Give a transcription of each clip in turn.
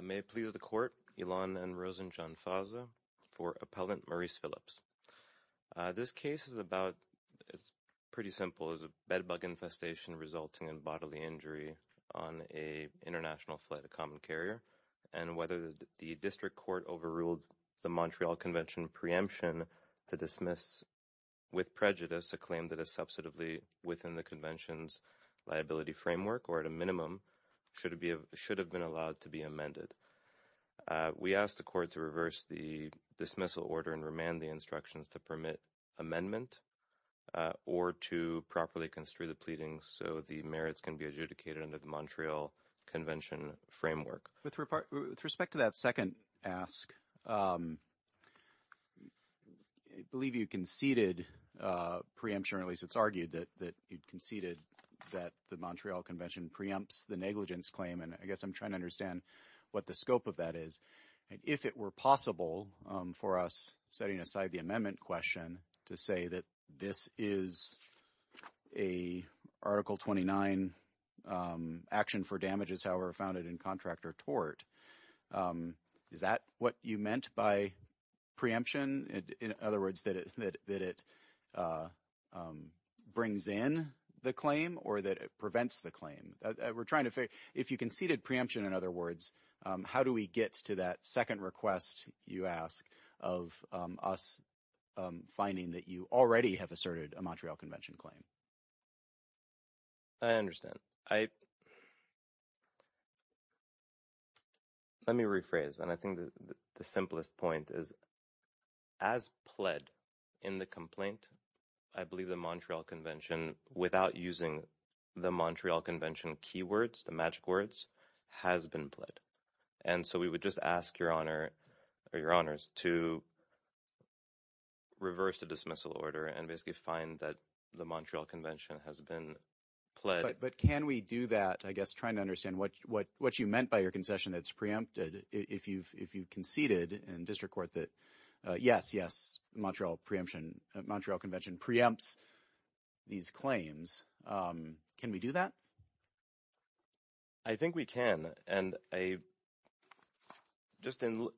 May it please the Court, Ilan and Rosenjohn Faza, for Appellant Maurice Phillips. This case is about, it's pretty simple, it's a bed bug infestation resulting in bodily injury on an International Flight Accommodation Carrier. And whether the District Court overruled the Montreal Convention preemption to dismiss with prejudice a claim that is substantively within the Convention's liability framework or at a minimum should have been allowed to be amended. We ask the Court to reverse the dismissal order and remand the instructions to permit amendment or to properly construe the pleading so the merits can be adjudicated under the Montreal Convention framework. With respect to that second ask, I believe you conceded preemption or at least it's argued that you conceded that the Montreal Convention preempts the negligence claim and I guess I'm trying to understand what the scope of that is. If it were possible for us, setting aside the amendment question, to say that this is a Article 29 action for damages however founded in contract or tort, is that what you meant by preemption? In other words, that it brings in the claim or that it prevents the claim? We're trying to figure, if you conceded preemption in other words, how do we get to that second I understand. Let me rephrase and I think the simplest point is as pled in the complaint, I believe the Montreal Convention, without using the Montreal Convention keywords, the magic words, has been pled. And so we would just ask Your Honour or Your Honours to reverse the dismissal order and basically find that the Montreal Convention has been pled. But can we do that, I guess trying to understand what you meant by your concession that's preempted if you conceded in district court that yes, yes, Montreal Convention preempts these claims. Can we do that? I think we can. And just to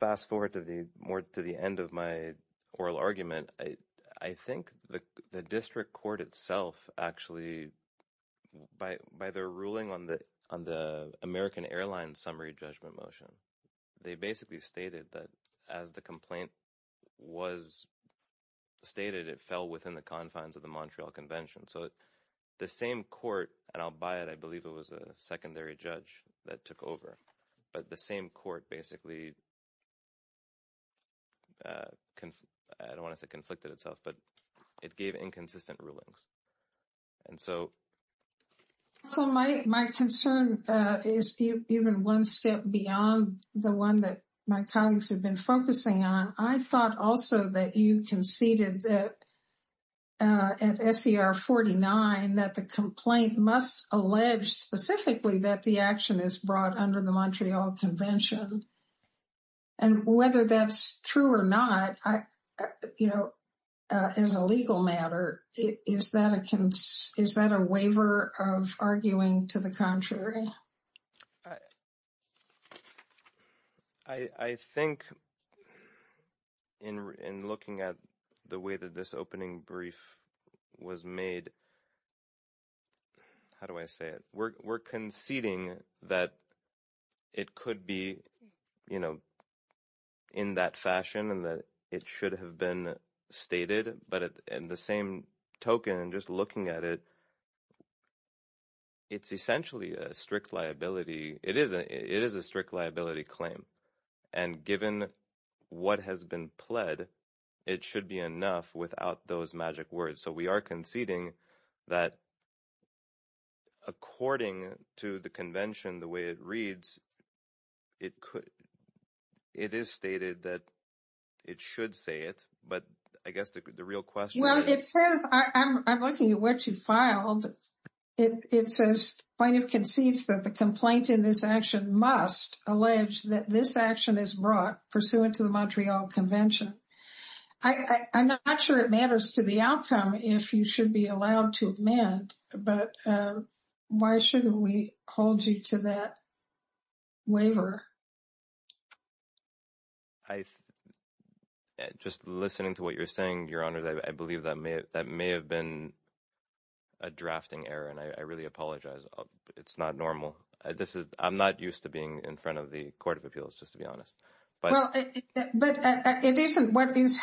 fast forward to the end of my oral argument, I think the district court itself actually, by their ruling on the American Airlines summary judgment motion, they basically stated that as the complaint was stated, it fell within the confines of the Montreal Convention. So the same court, and I'll buy it, I believe it was a secondary judge that took over. But the same court basically, I don't want to say conflicted itself, but it gave inconsistent rulings. And so my concern is even one step beyond the one that my colleagues have been focusing on. I thought also that you conceded that at SER 49, that the complaint must allege specifically that the action is brought under the Montreal Convention. And whether that's true or not, you know, as a legal matter, is that a waiver of arguing to the contrary? I think in looking at the way that this opening brief was made, how do I say it? We're conceding that it could be, you know, in that fashion and that it should have been stated. But in the same token, just looking at it, it's essentially a strict liability. It is a strict liability claim. And given what has been pled, it should be enough without those magic words. So we are conceding that according to the convention, the way it reads, it is stated that it should say it. But I guess the real question is. Well, it says, I'm looking at what you filed. It says plaintiff concedes that the complaint in this action must allege that this action is brought pursuant to the Montreal Convention. I'm not sure it matters to the outcome if you should be allowed to amend, but why shouldn't we hold you to that waiver? I, just listening to what you're saying, Your Honor, I believe that may have been a drafting error and I really apologize. It's not normal. This is, I'm not used to being in front of the Court of Appeals, just to be honest. But it isn't what is,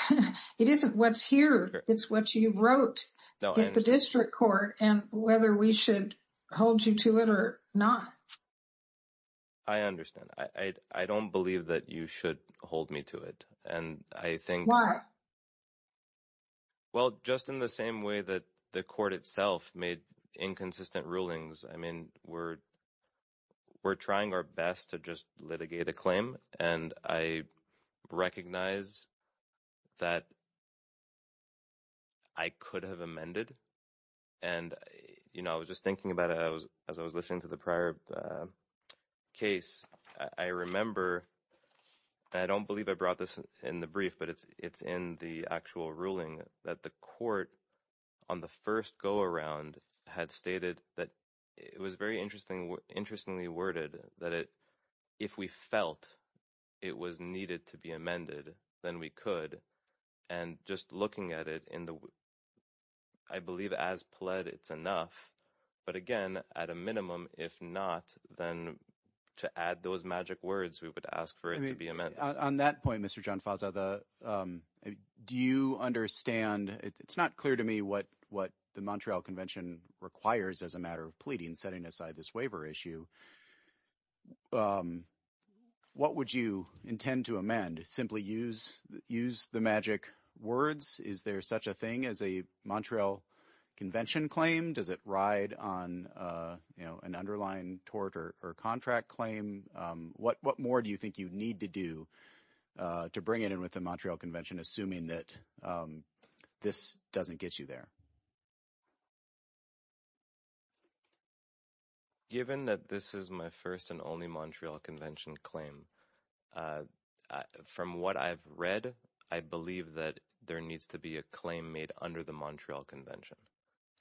it isn't what's here. It's what you wrote in the district court and whether we should hold you to it or not. I understand. I don't believe that you should hold me to it. And I think. Why? Well, just in the same way that the court itself made inconsistent rulings, I mean, we're trying our best to just litigate a claim. And I recognize that I could have amended. And, you know, I was just thinking about it as I was listening to the prior case. I remember, I don't believe I brought this in the brief, but it's in the actual ruling that the court on the first go around had stated that it was very interestingly worded that if we felt it was needed to be amended, then we could. And just looking at it in the, I believe as pled, it's enough. But again, at a minimum, if not, then to add those magic words, we would ask for it to be amended. On that point, Mr. Gianfasa, do you understand? It's not clear to me what the Montreal Convention requires as a matter of pleading, setting aside this waiver issue. What would you intend to amend? And simply use the magic words? Is there such a thing as a Montreal Convention claim? Does it ride on, you know, an underlying tort or contract claim? What more do you think you need to do to bring it in with the Montreal Convention, assuming that this doesn't get you there? Given that this is my first and only Montreal Convention claim, from what I've read, I believe that there needs to be a claim made under the Montreal Convention.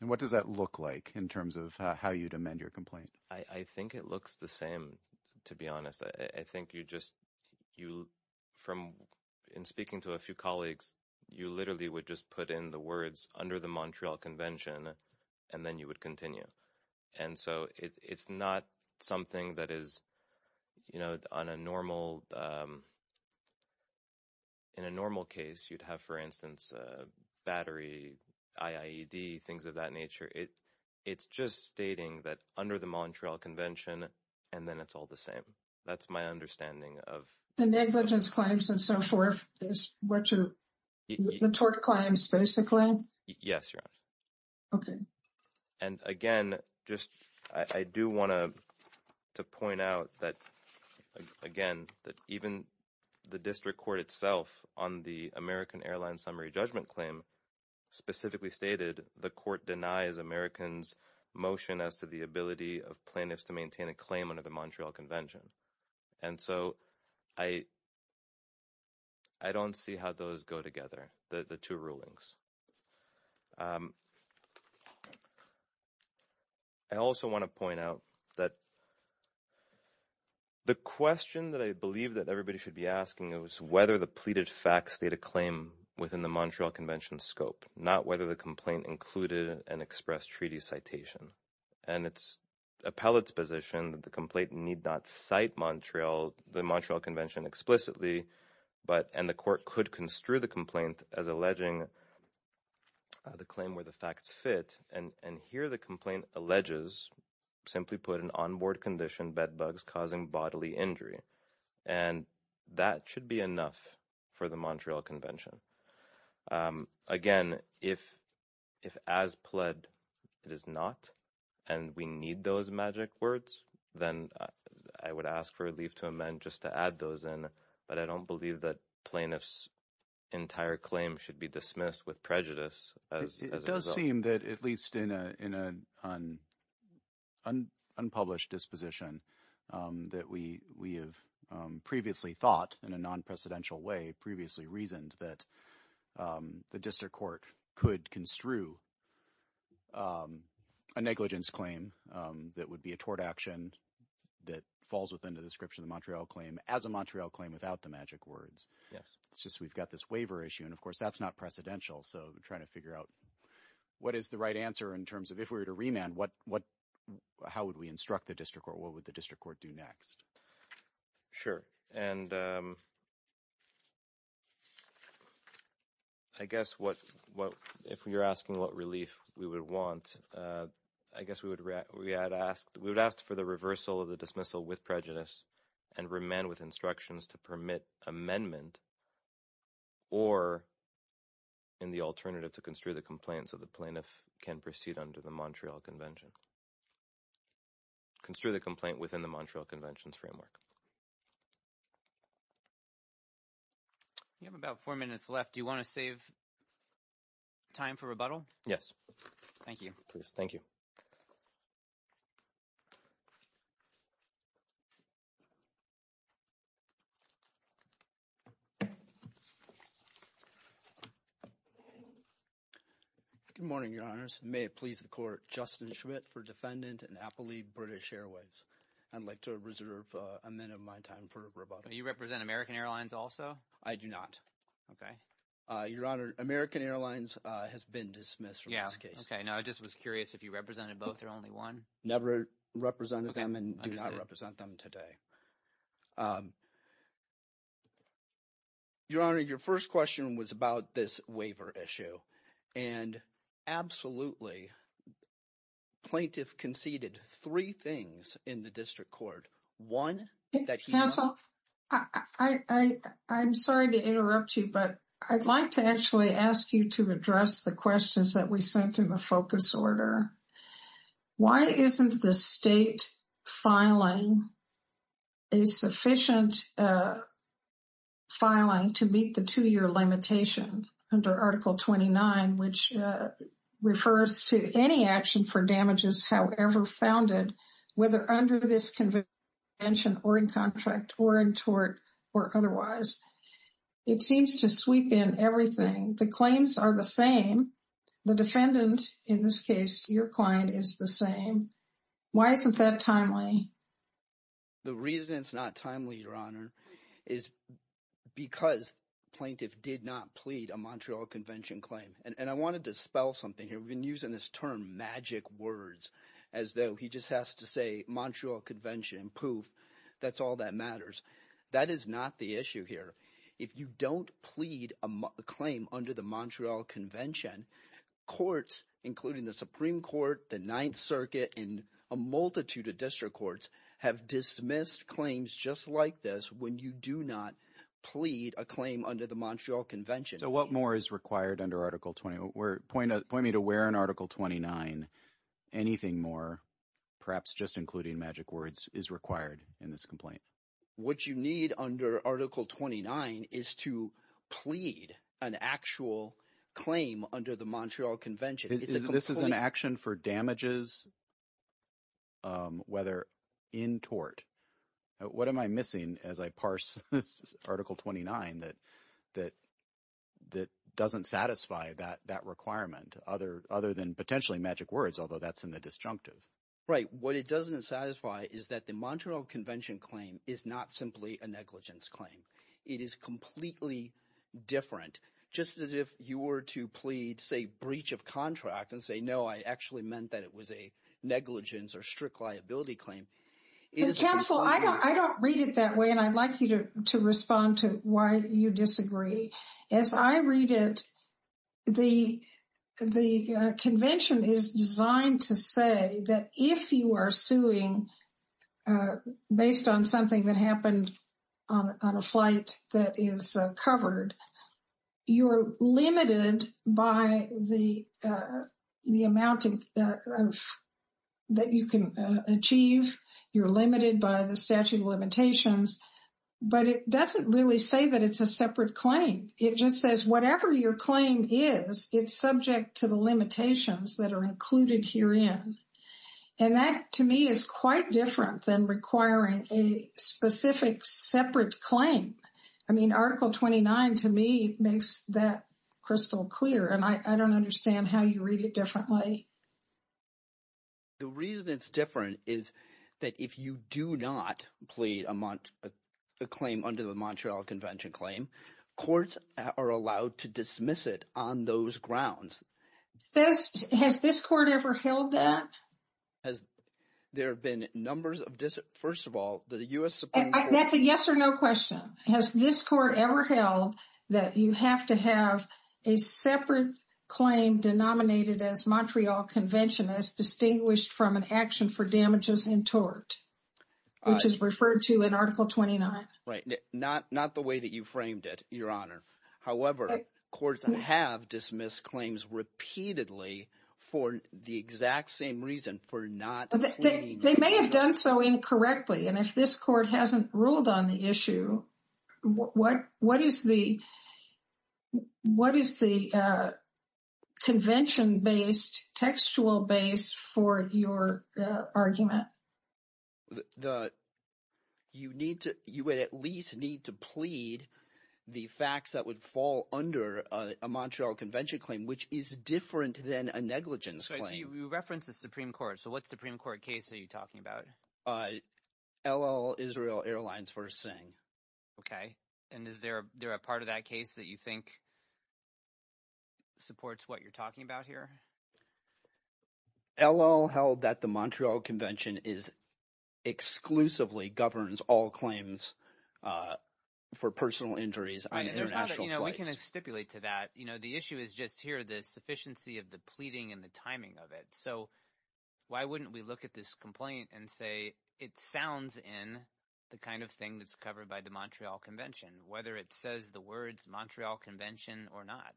And what does that look like in terms of how you'd amend your complaint? I think it looks the same, to be honest. I think you just, from in speaking to a few colleagues, you literally would just put in the words, under the Montreal Convention, and then you would continue. And so, it's not something that is, you know, on a normal, in a normal case, you'd have, for instance, battery, IAED, things of that nature. It's just stating that under the Montreal Convention, and then it's all the same. That's my understanding of- The negligence claims and so forth is what your, the tort claims, basically? Yes, Your Honor. Okay. And, again, just, I do want to point out that, again, that even the district court itself on the American Airlines summary judgment claim specifically stated the court denies Americans motion as to the ability of plaintiffs to maintain a claim under the Montreal Convention. And so, I don't see how those go together, the two rulings. I also want to point out that the question that I believe that everybody should be asking is whether the pleaded facts state a claim within the Montreal Convention scope, not whether the complaint included an express treaty citation. And it's appellate's position that the complaint need not cite Montreal, the Montreal Convention explicitly, but, and the court could construe the complaint as alleging the claim where the facts fit, and here the complaint alleges, simply put, an on-board condition, bedbugs causing bodily injury. And that should be enough for the Montreal Convention. Again, if as pled, it is not, and we need those magic words, then I would ask for a leave to amend just to add those in, but I don't believe that plaintiffs' entire claim should be dismissed with prejudice as a result. It does seem that, at least in an unpublished disposition that we have previously thought in a non-precedential way, previously reasoned, that the district court could construe a negligence claim that would be a tort action that falls within the description of the Montreal claim as a Montreal claim without the magic words. Yes. It's just we've got this waiver issue, and of course that's not precedential, so we're trying to figure out what is the right answer in terms of, if we were to remand, how would we instruct the district court, what would the district court do next? Sure, and I guess if you're asking what relief we would want, I guess we would ask for the reversal of the dismissal with prejudice and remand with instructions to permit amendment, or in the alternative, to construe the complaint so the plaintiff can proceed under the Montreal Convention's framework. You have about four minutes left. Do you want to save time for rebuttal? Yes. Thank you. Please, thank you. Good morning, Your Honors. May it please the Court, Justin Schmidt for Defendant and Appellee British Airways. I'd like to reserve a minute of my time for rebuttal. Do you represent American Airlines also? I do not. Okay. Your Honor, American Airlines has been dismissed from this case. Yeah, okay. No, I just was curious if you represented both or only one? Never represented them and do not represent them today. Your Honor, your first question was about this waiver issue, and absolutely plaintiff conceded three things in the district court. One that he- Counsel, I'm sorry to interrupt you, but I'd like to actually ask you to address the questions that we sent in the focus order. Why isn't the state filing a sufficient filing to meet the two-year limitation under Article 29, which refers to any action for damages, however founded, whether under this convention or in contract or in tort or otherwise? It seems to sweep in everything. The claims are the same. The defendant, in this case, your client, is the same. Why isn't that timely? The reason it's not timely, your Honor, is because plaintiff did not plead a Montreal Convention claim. I wanted to spell something here. We've been using this term, magic words, as though he just has to say Montreal Convention and poof, that's all that matters. That is not the issue here. If you don't plead a claim under the Montreal Convention, courts, including the Supreme dismissed claims just like this when you do not plead a claim under the Montreal Convention. What more is required under Article 29? Point me to where in Article 29 anything more, perhaps just including magic words, is required in this complaint. What you need under Article 29 is to plead an actual claim under the Montreal Convention. This is an action for damages, whether in tort. What am I missing as I parse Article 29 that doesn't satisfy that requirement other than potentially magic words, although that's in the disjunctive? Right. What it doesn't satisfy is that the Montreal Convention claim is not simply a negligence claim. It is completely different. Just as if you were to plead, say, breach of contract and say, no, I actually meant that it was a negligence or strict liability claim. Counsel, I don't read it that way, and I'd like you to respond to why you disagree. As I read it, the convention is designed to say that if you are suing based on something that happened on a flight that is covered, you're limited by the amount that you can achieve. You're limited by the statute of limitations. But it doesn't really say that it's a separate claim. It just says whatever your claim is, it's subject to the limitations that are included herein. And that, to me, is quite different than requiring a specific separate claim. I mean, Article 29, to me, makes that crystal clear. And I don't understand how you read it differently. The reason it's different is that if you do not plead a claim under the Montreal Convention claim, courts are allowed to dismiss it on those grounds. Has this court ever held that? There have been numbers of dis... First of all, the U.S. Supreme Court... That's a yes or no question. Has this court ever held that you have to have a separate claim denominated as Montreal Convention as distinguished from an action for damages in tort, which is referred to in Article 29? Right. Not the way that you framed it, Your Honor. However, courts have dismissed claims repeatedly for the exact same reason, for not pleading a claim. They may have done so incorrectly. And if this court hasn't ruled on the issue, what is the convention-based, textual base for your argument? You would at least need to plead the facts that would fall under a Montreal Convention claim, which is different than a negligence claim. So you reference the Supreme Court. So what Supreme Court case are you talking about? LL Israel Airlines v. Singh. Okay. And is there a part of that case that you think supports what you're talking about here? LL held that the Montreal Convention exclusively governs all claims for personal injuries on international flights. We can stipulate to that. The issue is just here, the sufficiency of the pleading and the timing of it. So why wouldn't we look at this complaint and say it sounds in the kind of thing that's covered by the Montreal Convention, whether it says the words Montreal Convention or not?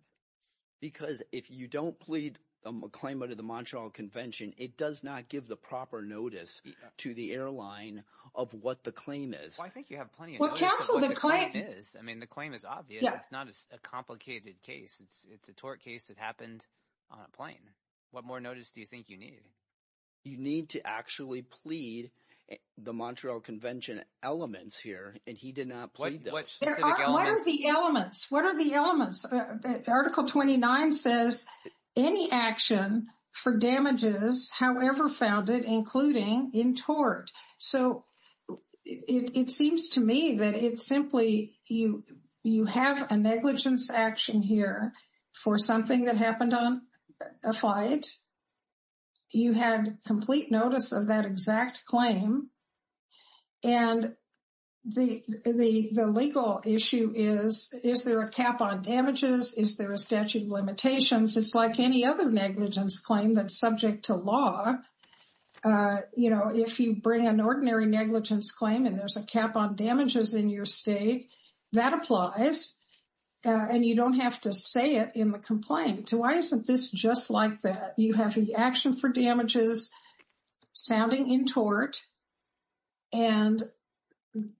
Because if you don't plead a claim under the Montreal Convention, it does not give the proper notice to the airline of what the claim is. Well, I think you have plenty of notice of what the claim is. Well, counsel, the claim- I mean, the claim is obvious. Yeah. It's not a complicated case. It's a tort case that happened on a plane. What more notice do you think you need? You need to actually plead the Montreal Convention elements here, and he did not plead them. What specific elements? What are the elements? Article 29 says, any action for damages, however founded, including in tort. So it seems to me that it's simply you have a negligence action here for something that happened on a flight. You had complete notice of that exact claim, and the legal issue is, is there a cap on damages? Is there a statute of limitations? It's like any other negligence claim that's subject to law. If you bring an ordinary negligence claim and there's a cap on damages in your state, that applies, and you don't have to say it in the complaint. Why isn't this just like that? You have the action for damages sounding in tort, and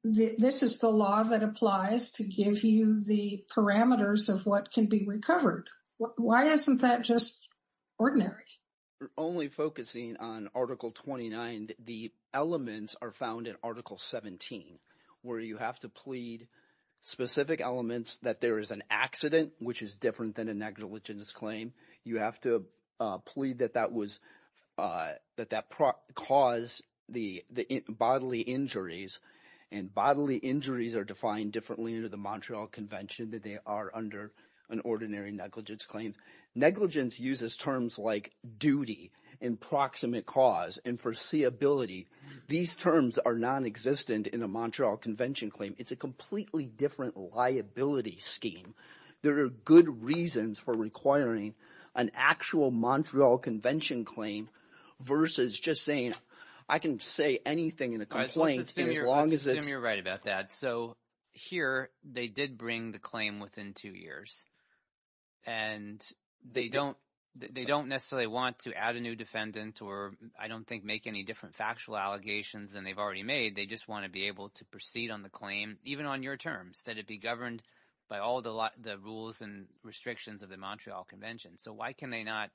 this is the law that applies to give you the parameters of what can be recovered. Why isn't that just ordinary? We're only focusing on Article 29. The elements are found in Article 17, where you have to plead specific elements that there is an accident, which is different than a negligence claim. You have to plead that that caused the bodily injuries, and bodily injuries are defined differently under the Montreal Convention than they are under an ordinary negligence claim. Negligence uses terms like duty, and proximate cause, and foreseeability. These terms are nonexistent in a Montreal Convention claim. It's a completely different liability scheme. There are good reasons for requiring an actual Montreal Convention claim versus just saying, I can say anything in a complaint as long as it's- I assume you're right about that. Here they did bring the claim within two years, and they don't necessarily want to add a new defendant or I don't think make any different factual allegations than they've already made. They just want to be able to proceed on the claim, even on your terms, that it be governed by all the rules and restrictions of the Montreal Convention. Why can they not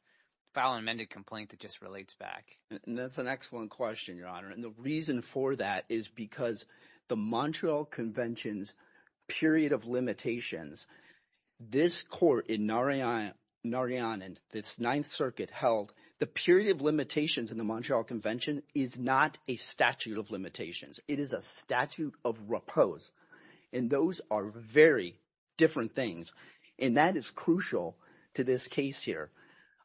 file an amended complaint that just relates back? That's an excellent question, Your Honor. The reason for that is because the Montreal Convention's period of limitations, this court in Narayanan, this Ninth Circuit held the period of limitations in the Montreal Convention is not a statute of limitations. It is a statute of repose, and those are very different things. That is crucial to this case here.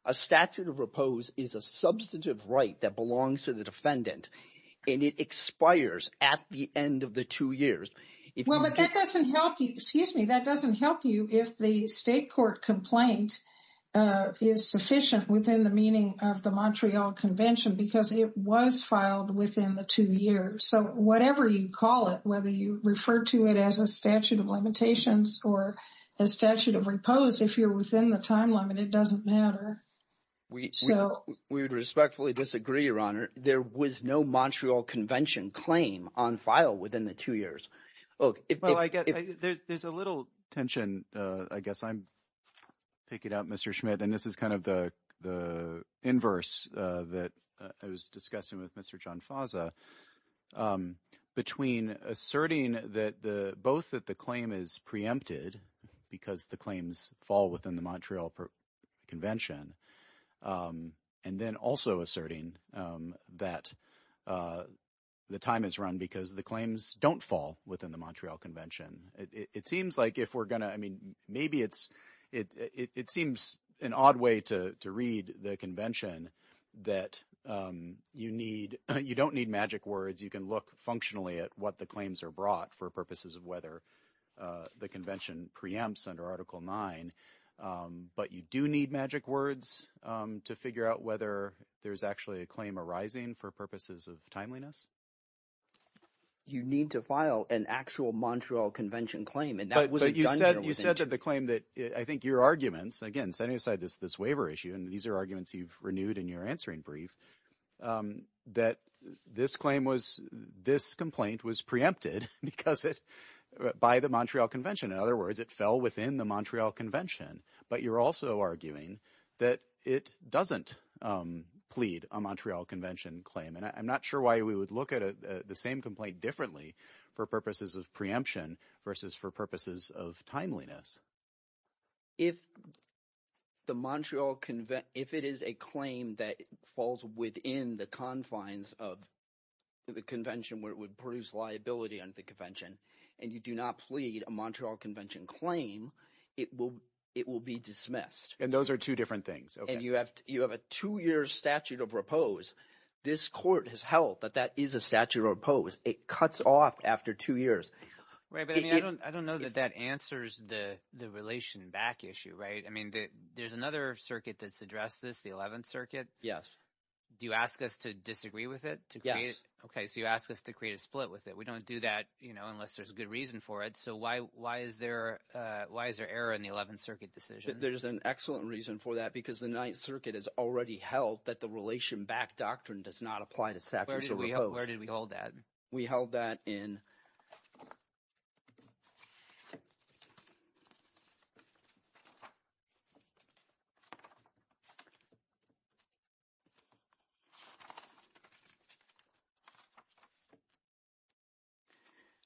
A statute of repose is a substantive right that belongs to the defendant, and it expires at the end of the two years. Well, but that doesn't help you- excuse me. That doesn't help you if the state court complaint is sufficient within the meaning of the Montreal Convention, because it was filed within the two years. So whatever you call it, whether you refer to it as a statute of limitations or a statute of repose, if you're within the time limit, it doesn't matter. We would respectfully disagree, Your Honor. There was no Montreal Convention claim on file within the two years. Well, I guess there's a little tension, I guess I'm picking it up, Mr. Schmidt, and this is kind of the inverse that I was discussing with Mr. Gianfasa, between asserting that the- both that the claim is preempted because the claims fall within the Montreal Convention, and then also asserting that the time is run because the claims don't fall within the Montreal Convention. It seems like if we're going to- I mean, maybe it's- it seems an odd way to read the convention that you need- you don't need magic words. You can look functionally at what the claims are brought for purposes of whether the convention preempts under Article 9, but you do need magic words to figure out whether there's actually a claim arising for purposes of timeliness. You need to file an actual Montreal Convention claim, and that wasn't done here within- But you said that the claim that- I think your arguments, again, setting aside this waiver issue, and these are arguments you've renewed in your answering brief, that this claim was- this complaint was preempted because it- by the Montreal Convention. In other words, it fell within the Montreal Convention. But you're also arguing that it doesn't plead a Montreal Convention claim, and I'm not sure why we would look at the same complaint differently for purposes of preemption versus for purposes of timeliness. If the Montreal Conve- if it is a claim that falls within the confines of the convention where it would produce liability under the convention, and you do not plead a Montreal Convention claim, it will- it will be dismissed. And those are two different things, okay. And you have- you have a two-year statute of repose. This court has held that that is a statute of repose. It cuts off after two years. Right, but I mean, I don't know that that answers the relation back issue, right? I mean, there's another circuit that's addressed this, the 11th Circuit. Yes. Do you ask us to disagree with it? Yes. Okay, so you ask us to create a split with it. We don't do that, you know, unless there's a good reason for it. So why is there error in the 11th Circuit decision? There's an excellent reason for that because the 9th Circuit has already held that the relation back doctrine does not apply to statutes of repose. Where did we- where did we hold that? We held that in-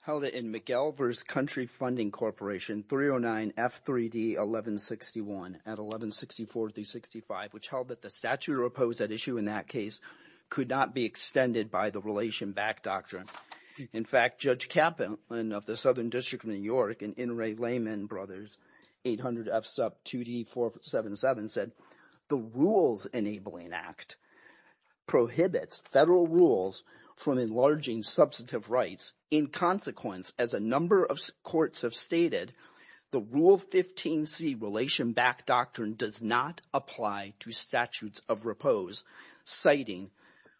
held it in Miguel versus Country Funding Corporation 309 F3D 1161 at 1164-365, which held that the statute of repose at issue in that case could not be extended by the relation back doctrine. In fact, Judge Kaplan of the Southern District of New York and Inouye Lehman Brothers, 800-F-SUP-2D-477 said, the Rules Enabling Act prohibits federal rules from enlarging substantive rights. In consequence, as a number of courts have stated, the Rule 15C relation back doctrine does not apply to statutes of repose, citing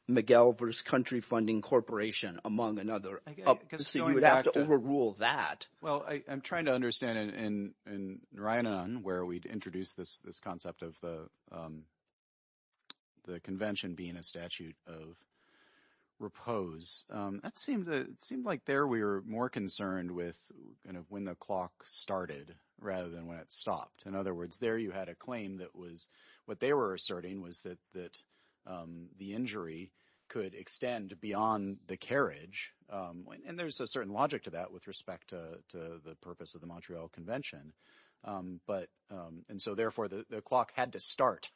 Miguel versus Country Funding Corporation, among another. I guess going back to- So you would have to overrule that. Well, I'm trying to understand, and Ryan, where we'd introduced this concept of the convention being a statute of repose, that seemed to- it seemed like there we were more concerned with, you know, when the clock started rather than when it stopped. In other words, there you had a claim that was- what they were asserting was that the injury could extend beyond the carriage. And there's a certain logic to that with respect to the purpose of the Montreal Convention. And so, therefore, the clock had to start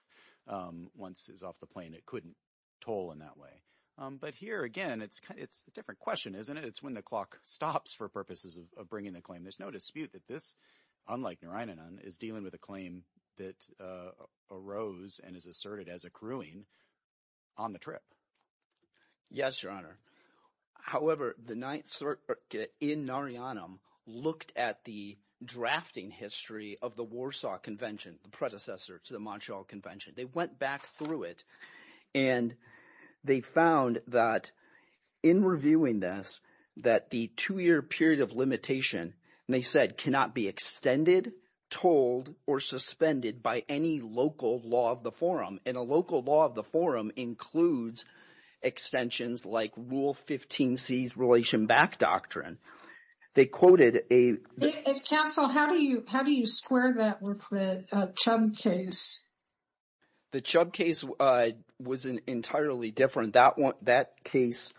once it was off the plane. It couldn't toll in that way. But here, again, it's a different question, isn't it? It's when the clock stops for purposes of bringing the claim. There's no dispute that this, unlike Narayanan, is dealing with a claim that arose and is asserted as accruing on the trip. Yes, Your Honor. However, the Ninth Circuit in Narayanan looked at the drafting history of the Warsaw Convention, the predecessor to the Montreal Convention. They went back through it, and they found that in reviewing this, that the two-year period of limitation, and they said, cannot be extended, tolled, or suspended by any local law of the forum. And a local law of the forum includes extensions like Rule 15c's Relation Back Doctrine. They quoted a- Counsel, how do you square that with the Chubb case? The Chubb case was entirely different. That case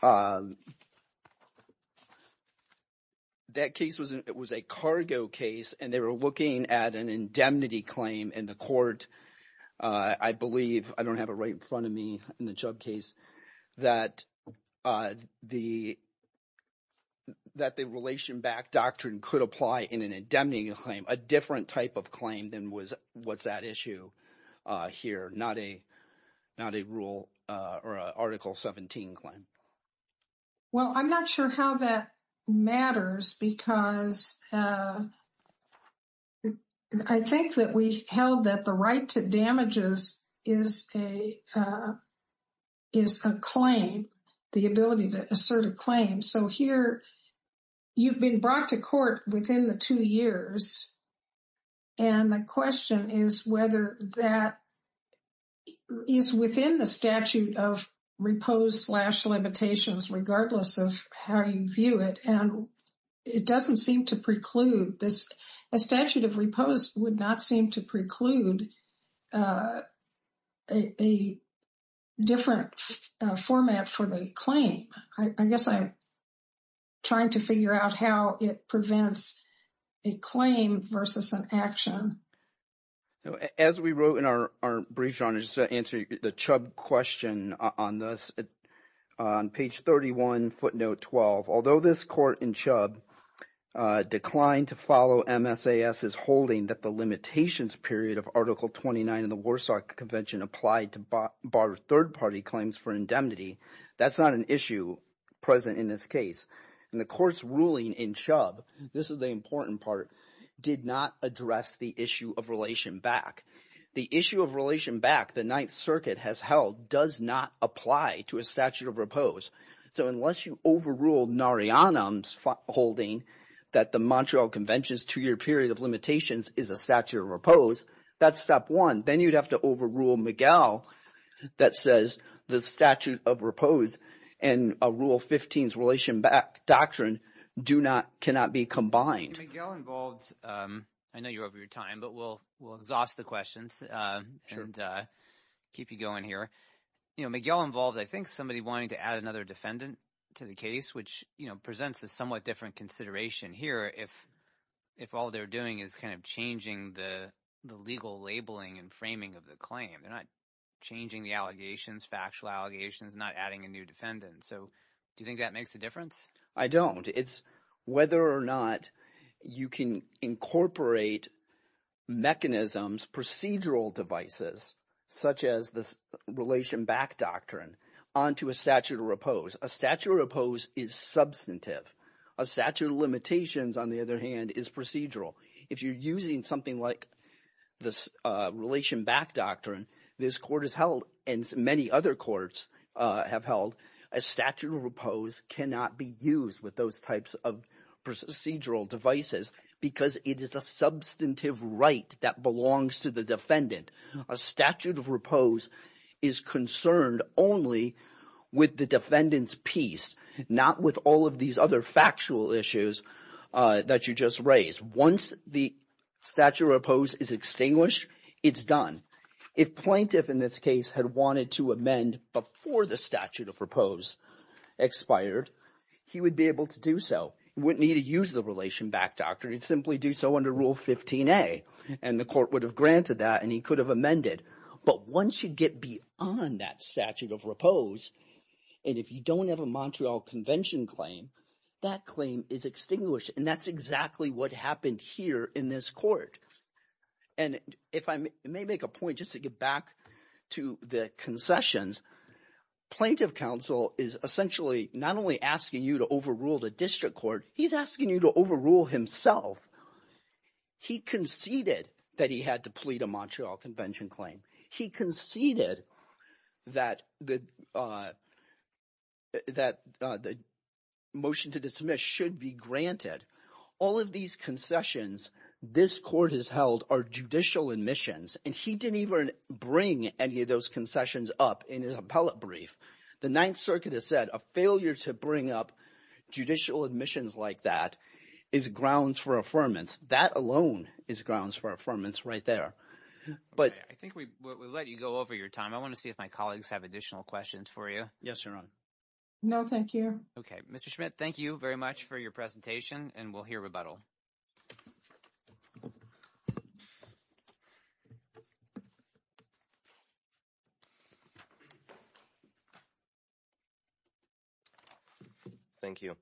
was a cargo case, and they were looking at an indemnity claim in the court. I believe, I don't have it right in front of me in the Chubb case, that the Relation Back Doctrine could apply in an indemnity claim, a different type of claim than was what's that issue here, not a rule or an Article 17 claim. Well, I'm not sure how that matters because I think that we held that the right to damages is a claim, the ability to assert a claim. So here, you've been brought to court within the two years, and the question is whether that is within the statute of repose slash limitations, regardless of how you view it. And it doesn't seem to preclude this. A statute of repose would not seem to preclude a different format for the claim. I guess I'm trying to figure out how it prevents a claim versus an action. Now, as we wrote in our brief, John, just to answer the Chubb question on this, on page 31, footnote 12, although this court in Chubb declined to follow MSAS's holding that the limitations period of Article 29 of the Warsaw Convention applied to bar third-party claims for indemnity, that's not an issue present in this case. And the court's ruling in Chubb, this is the important part, did not address the issue of relation back. The issue of relation back the Ninth Circuit has held does not apply to a statute of repose. So unless you overrule Narayanan's holding that the Montreal Convention's two-year period of limitations is a statute of repose, that's step one. Then you'd have to overrule Miguel that says the statute of repose and Rule 15's relation doctrine do not, cannot be combined. And Miguel involved, I know you're over your time, but we'll exhaust the questions and keep you going here. Miguel involved, I think, somebody wanting to add another defendant to the case, which presents a somewhat different consideration here if all they're doing is kind of changing the legal labeling and framing of the claim. They're not changing the allegations, factual allegations, not adding a new defendant. So do you think that makes a difference? I don't. It's whether or not you can incorporate mechanisms, procedural devices, such as this relation back doctrine onto a statute of repose. A statute of repose is substantive. A statute of limitations, on the other hand, is procedural. If you're using something like this relation back doctrine, this court has held and many other courts have held, a statute of repose cannot be used with those types of procedural devices because it is a substantive right that belongs to the defendant. A statute of repose is concerned only with the defendant's piece, not with all of these other factual issues that you just raised. Once the statute of repose is extinguished, it's done. If plaintiff in this case had wanted to amend before the statute of repose expired, he would be able to do so. He wouldn't need to use the relation back doctrine. He'd simply do so under Rule 15a, and the court would have granted that, and he could have amended. But once you get beyond that statute of repose, and if you don't have a Montreal Convention claim, that claim is extinguished, and that's exactly what happened here in this court. And if I may make a point just to get back to the concessions, plaintiff counsel is essentially not only asking you to overrule the district court. He's asking you to overrule himself. He conceded that he had to plead a Montreal Convention claim. He conceded that the motion to dismiss should be granted. All of these concessions this court has held are judicial admissions, and he didn't even bring any of those concessions up in his appellate brief. The Ninth Circuit has said a failure to bring up judicial admissions like that is grounds for affirmance. That alone is grounds for affirmance right there. I think we let you go over your time. I want to see if my colleagues have additional questions for you. Yes, Your Honor. No, thank you. Okay, Mr. Schmidt, thank you very much for your presentation, and we'll hear rebuttal. Thank you.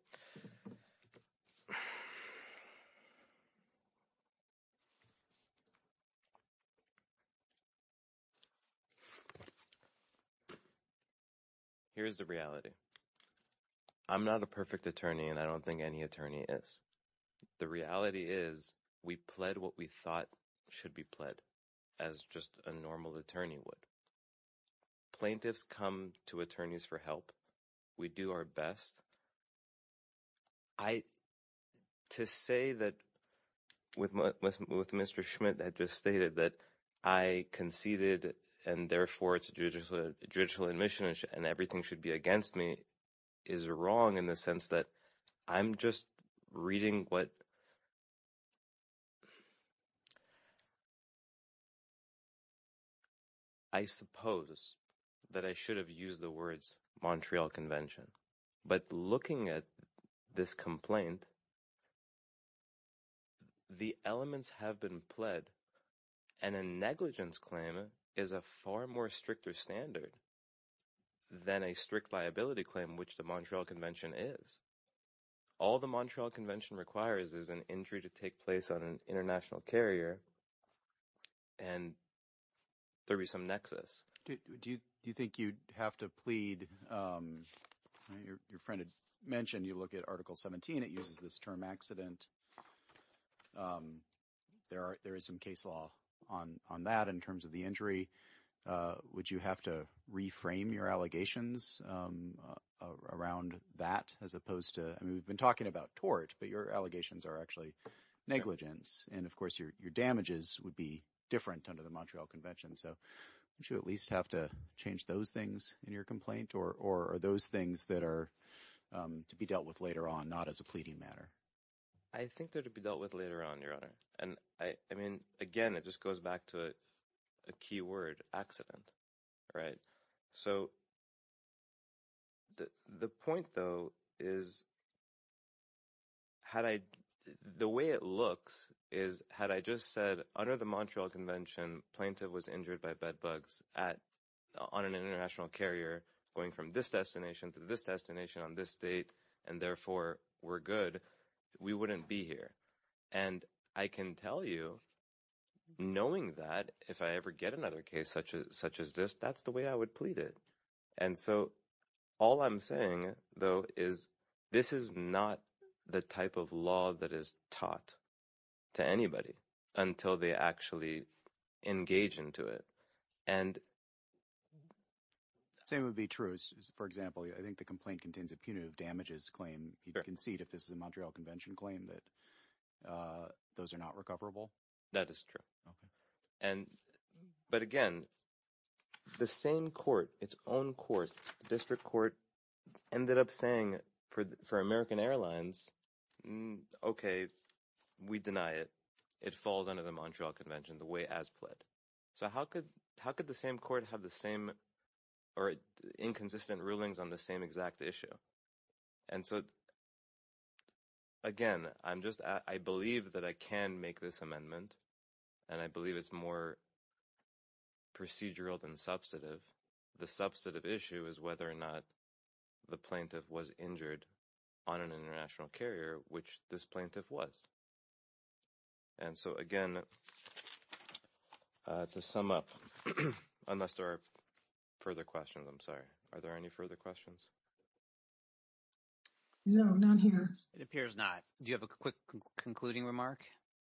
Here's the reality. I'm not a perfect attorney, and I don't think any attorney is. The reality is we pled what we thought should be pled as just a normal attorney would. Plaintiffs come to attorneys for help. We do our best. To say that with Mr. Schmidt that just stated that I conceded and therefore it's judicial admissions and everything should be against me is wrong in the sense that I'm just reading what... I suppose that I should have used the words Montreal Convention, but looking at this complaint, the elements have been pled, and a negligence claim is a far more stricter standard. Then a strict liability claim, which the Montreal Convention is. All the Montreal Convention requires is an injury to take place on an international carrier, and there be some nexus. Do you think you'd have to plead? Your friend had mentioned you look at Article 17. It uses this term accident. There is some case law on that in terms of the injury. Would you have to reframe your allegations around that as opposed to... We've been talking about tort, but your allegations are actually negligence, and of course your damages would be different under the Montreal Convention, so would you at least have to change those things in your complaint, or are those things that are to be dealt with later on, not as a pleading matter? I think they're to be dealt with later on, Your Honor. I mean, again, it just goes back to a key word, accident. The point, though, is the way it looks is had I just said, under the Montreal Convention, plaintiff was injured by bedbugs on an international carrier, going from this destination to this destination on this date, and therefore we're good, we wouldn't be here. And I can tell you, knowing that, if I ever get another case such as this, that's the way I would plead it. And so all I'm saying, though, is this is not the type of law that is taught to anybody until they actually engage into it. Same would be true. For example, I think the complaint contains a punitive damages claim. You concede if this is a Montreal Convention claim that those are not recoverable. That is true. But again, the same court, its own court, district court, ended up saying for American Airlines, okay, we deny it. It falls under the Montreal Convention, the way as pled. So how could the same court have the same or inconsistent rulings on the same exact issue? And so again, I'm just – I believe that I can make this amendment, and I believe it's more procedural than substantive. The substantive issue is whether or not the plaintiff was injured on an international carrier, which this plaintiff was. And so again, to sum up – unless there are further questions, I'm sorry. Are there any further questions? No, not here. It appears not. Do you have a quick concluding remark?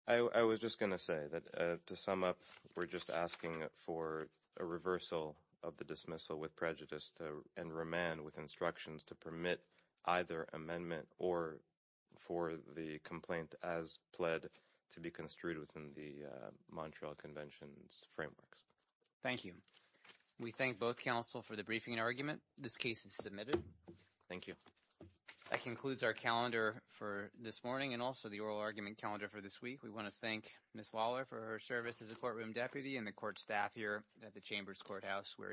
I was just going to say that to sum up, we're just asking for a reversal of the dismissal with prejudice and remand with instructions to permit either amendment or for the complaint as pled to be construed within the Montreal Convention's frameworks. Thank you. We thank both counsel for the briefing and argument. This case is submitted. Thank you. That concludes our calendar for this morning and also the oral argument calendar for this week. We want to thank Ms. Lawler for her service as a courtroom deputy and the court staff here at the Chambers Courthouse. We're adjourned.